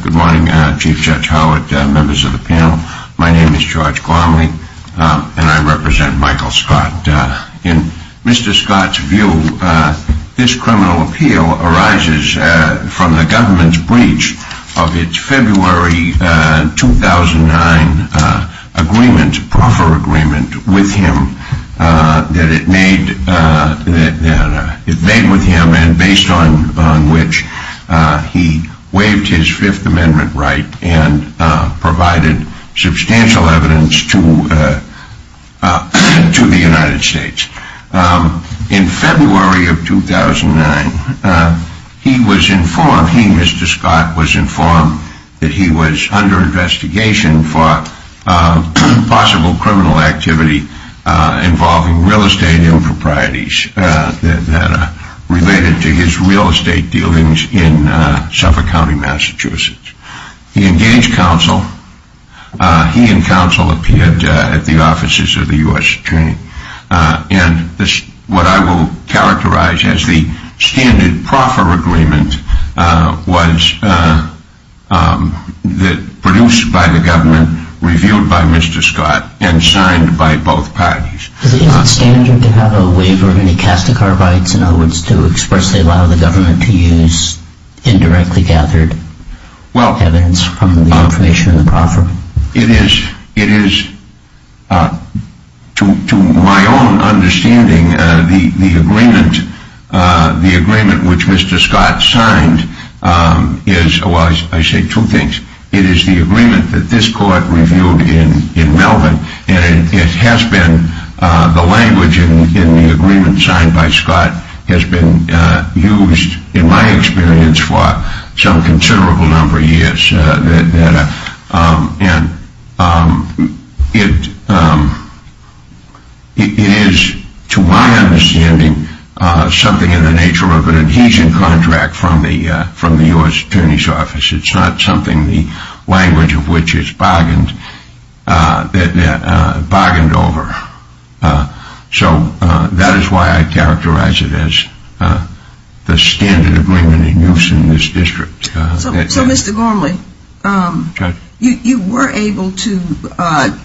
Good morning, Chief Judge Howard, members of the panel. My name is George Gormley, and I represent Michael Scott. In Mr. Scott's view, this criminal appeal arises from the government's breach of its February 2009 agreement, proffer agreement, with him, that it made with him and based on which he waived his Fifth Amendment right and provided substantial evidence to the United States. In February of 2009, he, Mr. Scott, was informed that he was under investigation for possible criminal activity involving real estate improprieties that are related to his real estate dealings in Suffolk County, Massachusetts. He engaged counsel, he and counsel appeared at the offices of the U.S. Attorney, and what I will characterize as the standard proffer agreement was produced by the government, reviewed by Mr. Scott, and signed by both parties. Is it standard to have a waiver of any casticarbides, in other words, to expressly allow the government to use indirectly gathered evidence from the information in the proffer? It is. It is. To my own understanding, the agreement, the agreement which Mr. Scott signed is, I say two things. It is the agreement that this court reviewed in Melbourne and it has been, the language in the agreement signed by Scott, has been used, in my experience, for some considerable number of years, and it is, to my understanding, something in the nature of an adhesion contract from the U.S. Attorney's office. It is not something the language of which it is bargained over. So that is why I characterize it as the standard agreement in use in this district. So Mr. Gormley, you were able to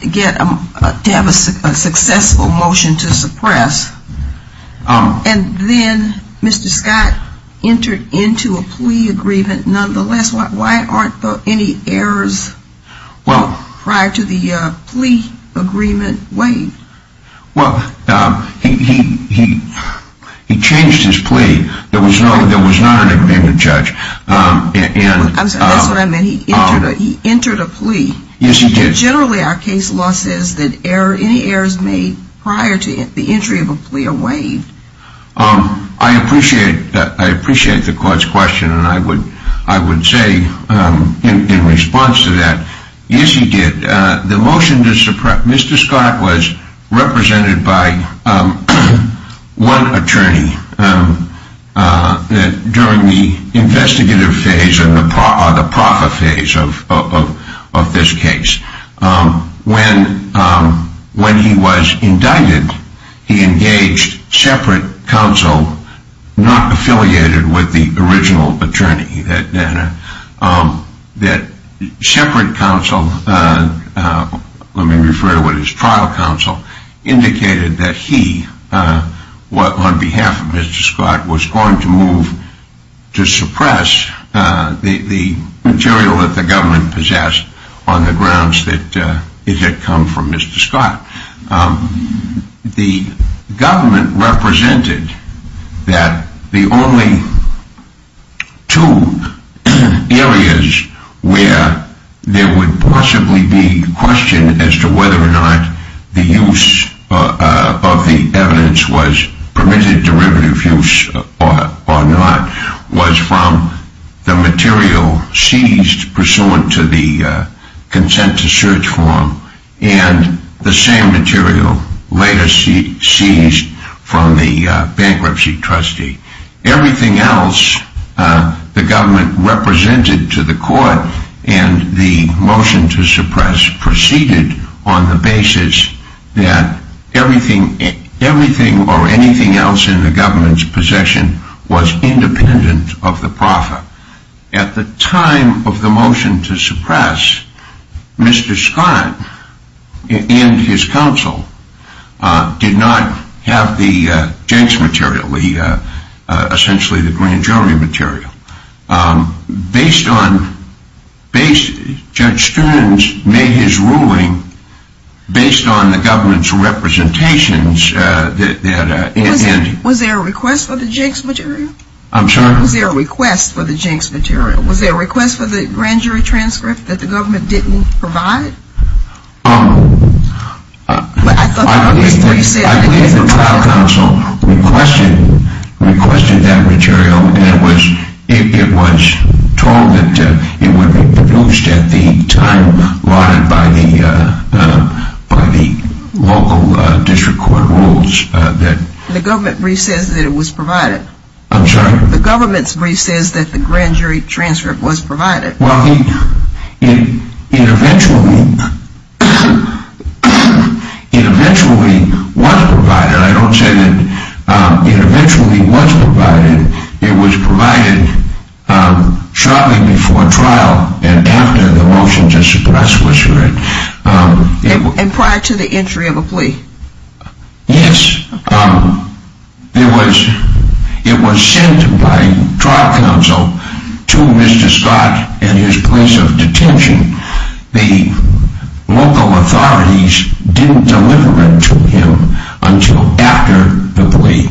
get, to have a successful motion to suppress, and then Mr. Scott entered into a plea agreement, nonetheless, why aren't there any errors prior to the plea agreement waived? Well, he changed his plea, there was no, there was not an agreement, Judge, and I'm sorry, that's what I meant, he entered a plea. Yes, he did. Generally, our case law says that any errors made prior to the entry of a plea are waived. I appreciate the court's question, and I would say, in response to that, yes, he did. The motion to suppress, Mr. Scott was represented by one attorney during the investigative phase or the proffer phase of this case. When he was indicted, he engaged separate counsel, not affiliated with the original attorney, that separate counsel, let me refer to it as trial counsel, indicated that he, on behalf of Mr. Scott, was going to move to suppress the material that the government possessed on the grounds that it had come from Mr. Scott. The government represented that the only two areas where there would possibly be question as to whether or not the use of the evidence was permitted derivative use or not was from the material seized pursuant to the consent to search form, and the same material later seized from the bankruptcy trustee. Everything else the government represented to the court and the motion to suppress proceeded on the basis that everything or anything else in the government's possession was independent of the proffer. At the time of the motion to suppress, Mr. Scott and his counsel did not have the jenks material, essentially the grand jury material. Based on, Judge Stearns made his ruling based on the government's representations. Was there a request for the jenks material? I'm sorry? Was there a request for the jenks material? Was there a request for the grand jury transcript that the government didn't provide? I believe the trial counsel requested that material and it was told that it would be produced at the time lauded by the local district court rules. The government brief says that it was provided. I'm sorry? The government's brief says that the grand jury transcript was provided. Well, it eventually was provided. I don't say that it eventually was provided. It was provided shortly before trial and after the motion to suppress was heard. And prior to the entry of a plea? Yes, it was sent by trial counsel to Mr. Scott and his place of detention. The local authorities didn't deliver it to him until after the plea.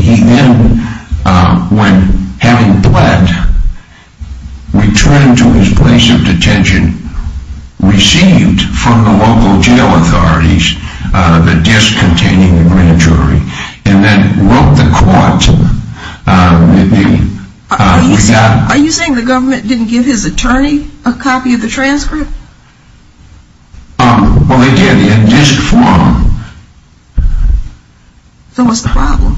He then, when having bled, returned to his place of detention, received from the local jail authorities the disc containing the grand jury and then wrote the court. Are you saying the government didn't give his attorney a copy of the transcript? Well, they did in this form. So what's the problem?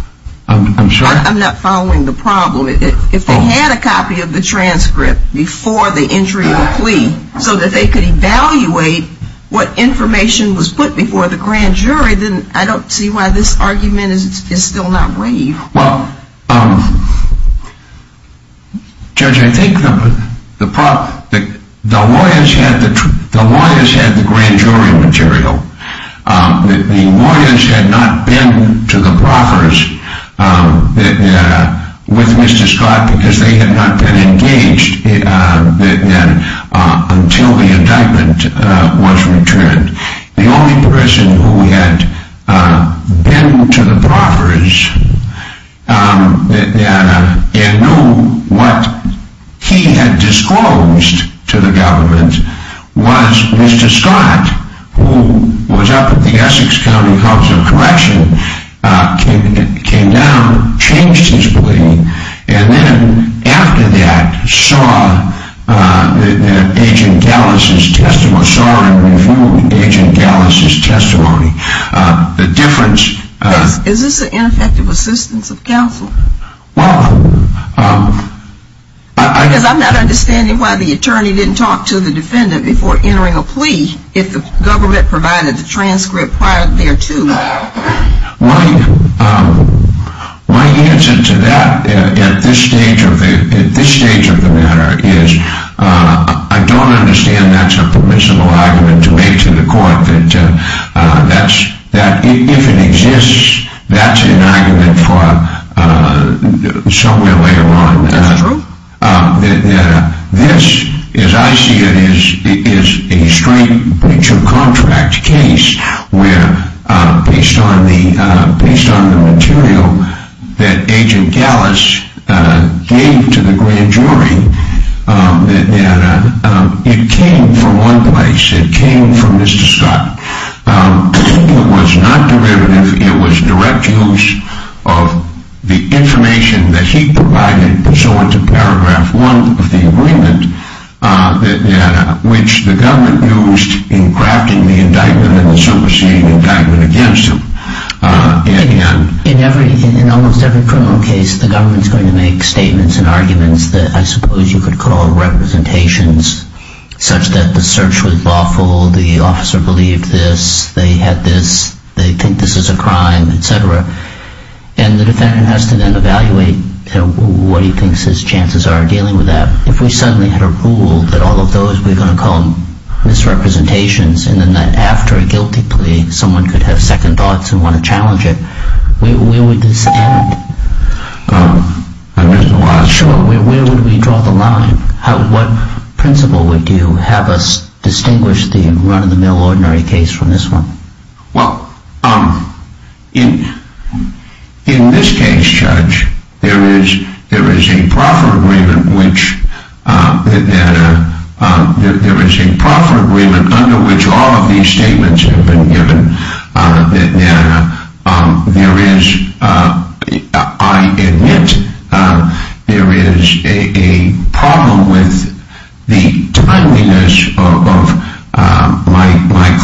I'm sorry? I'm not following the problem. If they had a copy of the transcript before the entry of the plea so that they could evaluate what information was put before the grand jury, then I don't see why this argument is still not waived. Well, Judge, I think the lawyers had the grand jury material. The lawyers had not been to the proffers with Mr. Scott because they had not been engaged until the indictment was returned. The only person who had been to the proffers and knew what he had disclosed to the government was Mr. Scott, who was up at the Essex County House of Correction, came down, changed his plea, and then after that saw Agent Gallus's testimony, saw and reviewed Agent Gallus's testimony. The difference... Is this an ineffective assistance of counsel? Well... Because I'm not understanding why the attorney didn't talk to the defendant before entering a plea if the government provided the transcript prior thereto. My answer to that at this stage of the matter is I don't understand that's a permissible argument to make to the court that if it exists, that's an argument for somewhere later on. Is that true? This, as I see it, is a straight breach of contract case where, based on the material that Agent Gallus gave to the grand jury, it came from one place, it came from Mr. Scott. It was not derivative, it was direct use of the information that he provided pursuant to paragraph one of the agreement which the government used in crafting the indictment and the superseding indictment against him. In almost every criminal case, the government is going to make statements and arguments that I suppose you could call representations, such that the search was lawful, the officer believed this, they had this, they think this is a crime, etc. And the defendant has to then evaluate what he thinks his chances are of dealing with that. If we suddenly had a rule that all of those we're going to call misrepresentations and then after a guilty plea someone could have second thoughts and want to challenge it, where would this end? I don't know. Sure, where would we draw the line? What principle would you have us distinguish the run-of-the-mill ordinary case from this one? Well, in this case, Judge, there is a proffer agreement under which all of these statements have been given. There is, I admit, there is a problem with the timeliness of my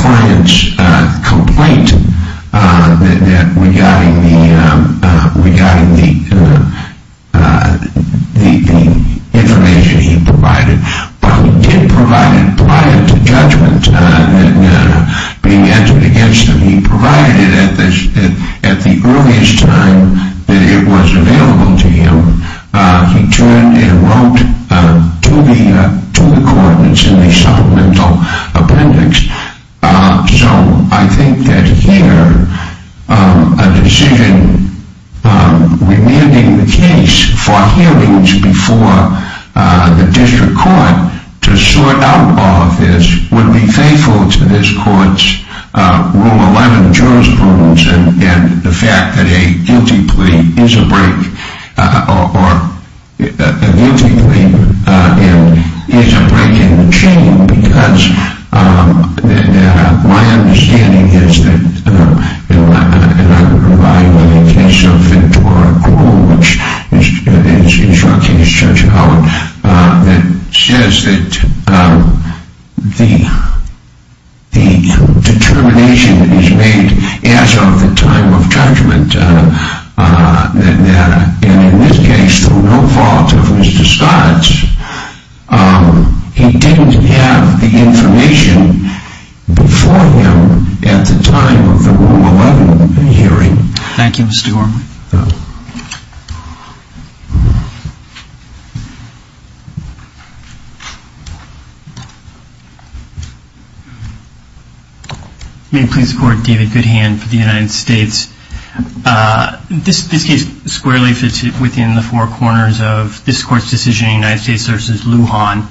client's complaint regarding the information he provided. But he did provide it prior to judgment being answered against him. He provided it at the earliest time that it was available to him. He turned and wrote to the court. It's in the supplemental appendix. So I think that here a decision remanding the case for hearings before the district court to sort out all of this would be faithful to this court's Rule 11 jurisprudence and the fact that a guilty plea is a break in the chain because my understanding is that, and I'm going to rely on the case of Ventura Cruel, which is your case, Judge Howard, that says that the determination is made as of the time of judgment. And in this case, through no fault of his disguise, he didn't have the information before him at the time of the Rule 11 hearing. Thank you, Mr. Gorman. Thank you. May I please support David Goodhand for the United States? This case squarely fits within the four corners of this court's decision in the United States versus Lujan.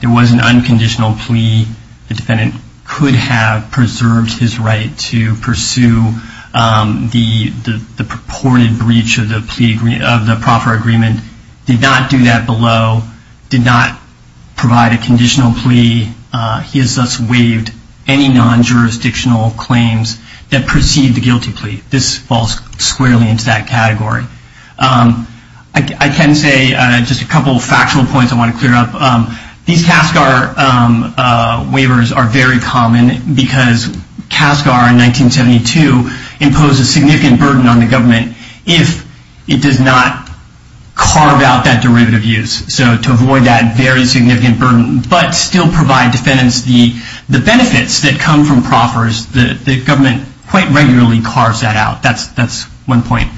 There was an unconditional plea. The defendant could have preserved his right to pursue the purported breach of the proper agreement. Did not do that below. Did not provide a conditional plea. He has thus waived any non-jurisdictional claims that precede the guilty plea. This falls squarely into that category. I can say just a couple of factual points I want to clear up. These CASCAR waivers are very common because CASCAR in 1972 imposed a significant burden on the government if it does not carve out that derivative use. So to avoid that very significant burden but still provide defendants the benefits that come from proffers, the government quite regularly carves that out. That's one point.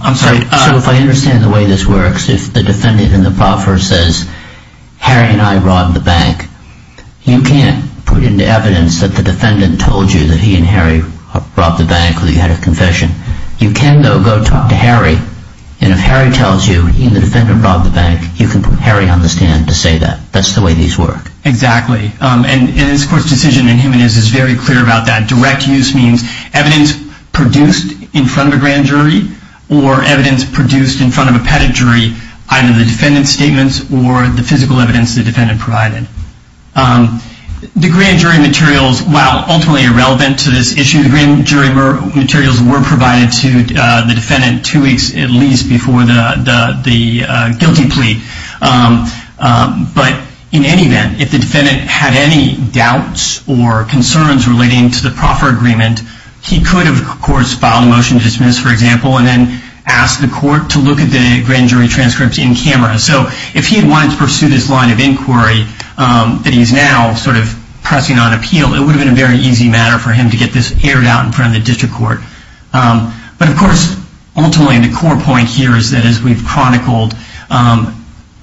I'm sorry. So if I understand the way this works, if the defendant in the proffer says, Harry and I robbed the bank, you can't put into evidence that the defendant told you that he and Harry robbed the bank or that you had a confession. You can, though, go talk to Harry, and if Harry tells you he and the defendant robbed the bank, you can put Harry on the stand to say that. That's the way these work. Exactly. And this court's decision in Jimenez is very clear about that. Evidence produced in front of a grand jury or evidence produced in front of a pettit jury, either the defendant's statements or the physical evidence the defendant provided. The grand jury materials, while ultimately irrelevant to this issue, the grand jury materials were provided to the defendant two weeks at least before the guilty plea. But in any event, if the defendant had any doubts or concerns relating to the proffer agreement, he could have, of course, filed a motion to dismiss, for example, and then asked the court to look at the grand jury transcripts in camera. So if he had wanted to pursue this line of inquiry that he's now sort of pressing on appeal, it would have been a very easy matter for him to get this aired out in front of the district court. But, of course, ultimately the core point here is that, as we've chronicled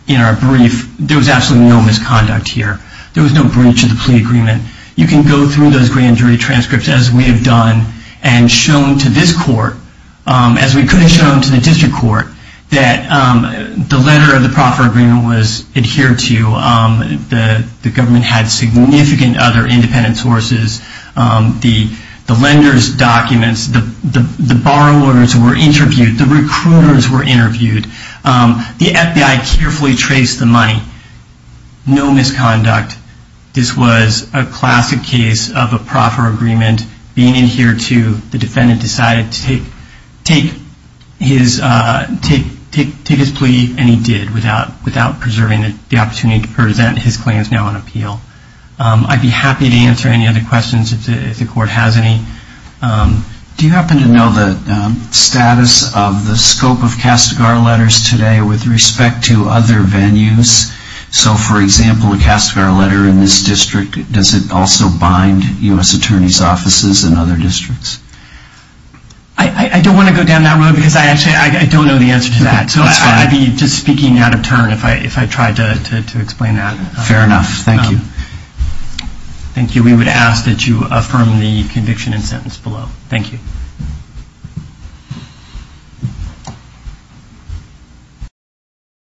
in our brief, there was absolutely no misconduct here. There was no breach of the plea agreement. You can go through those grand jury transcripts, as we have done, and shown to this court, as we could have shown to the district court, that the letter of the proffer agreement was adhered to. The government had significant other independent sources. The lender's documents, the borrowers were interviewed. The recruiters were interviewed. The FBI carefully traced the money. No misconduct. This was a classic case of a proffer agreement being adhered to. The defendant decided to take his plea, and he did, without preserving the opportunity to present his claims now on appeal. I'd be happy to answer any other questions if the court has any. Do you happen to know the status of the scope of Castagar letters today with respect to other venues? So, for example, a Castagar letter in this district, does it also bind U.S. Attorney's offices in other districts? I don't want to go down that road because I actually don't know the answer to that. I'd be just speaking out of turn if I tried to explain that. Fair enough. Thank you. Thank you. We would ask that you affirm the conviction and sentence below. Thank you.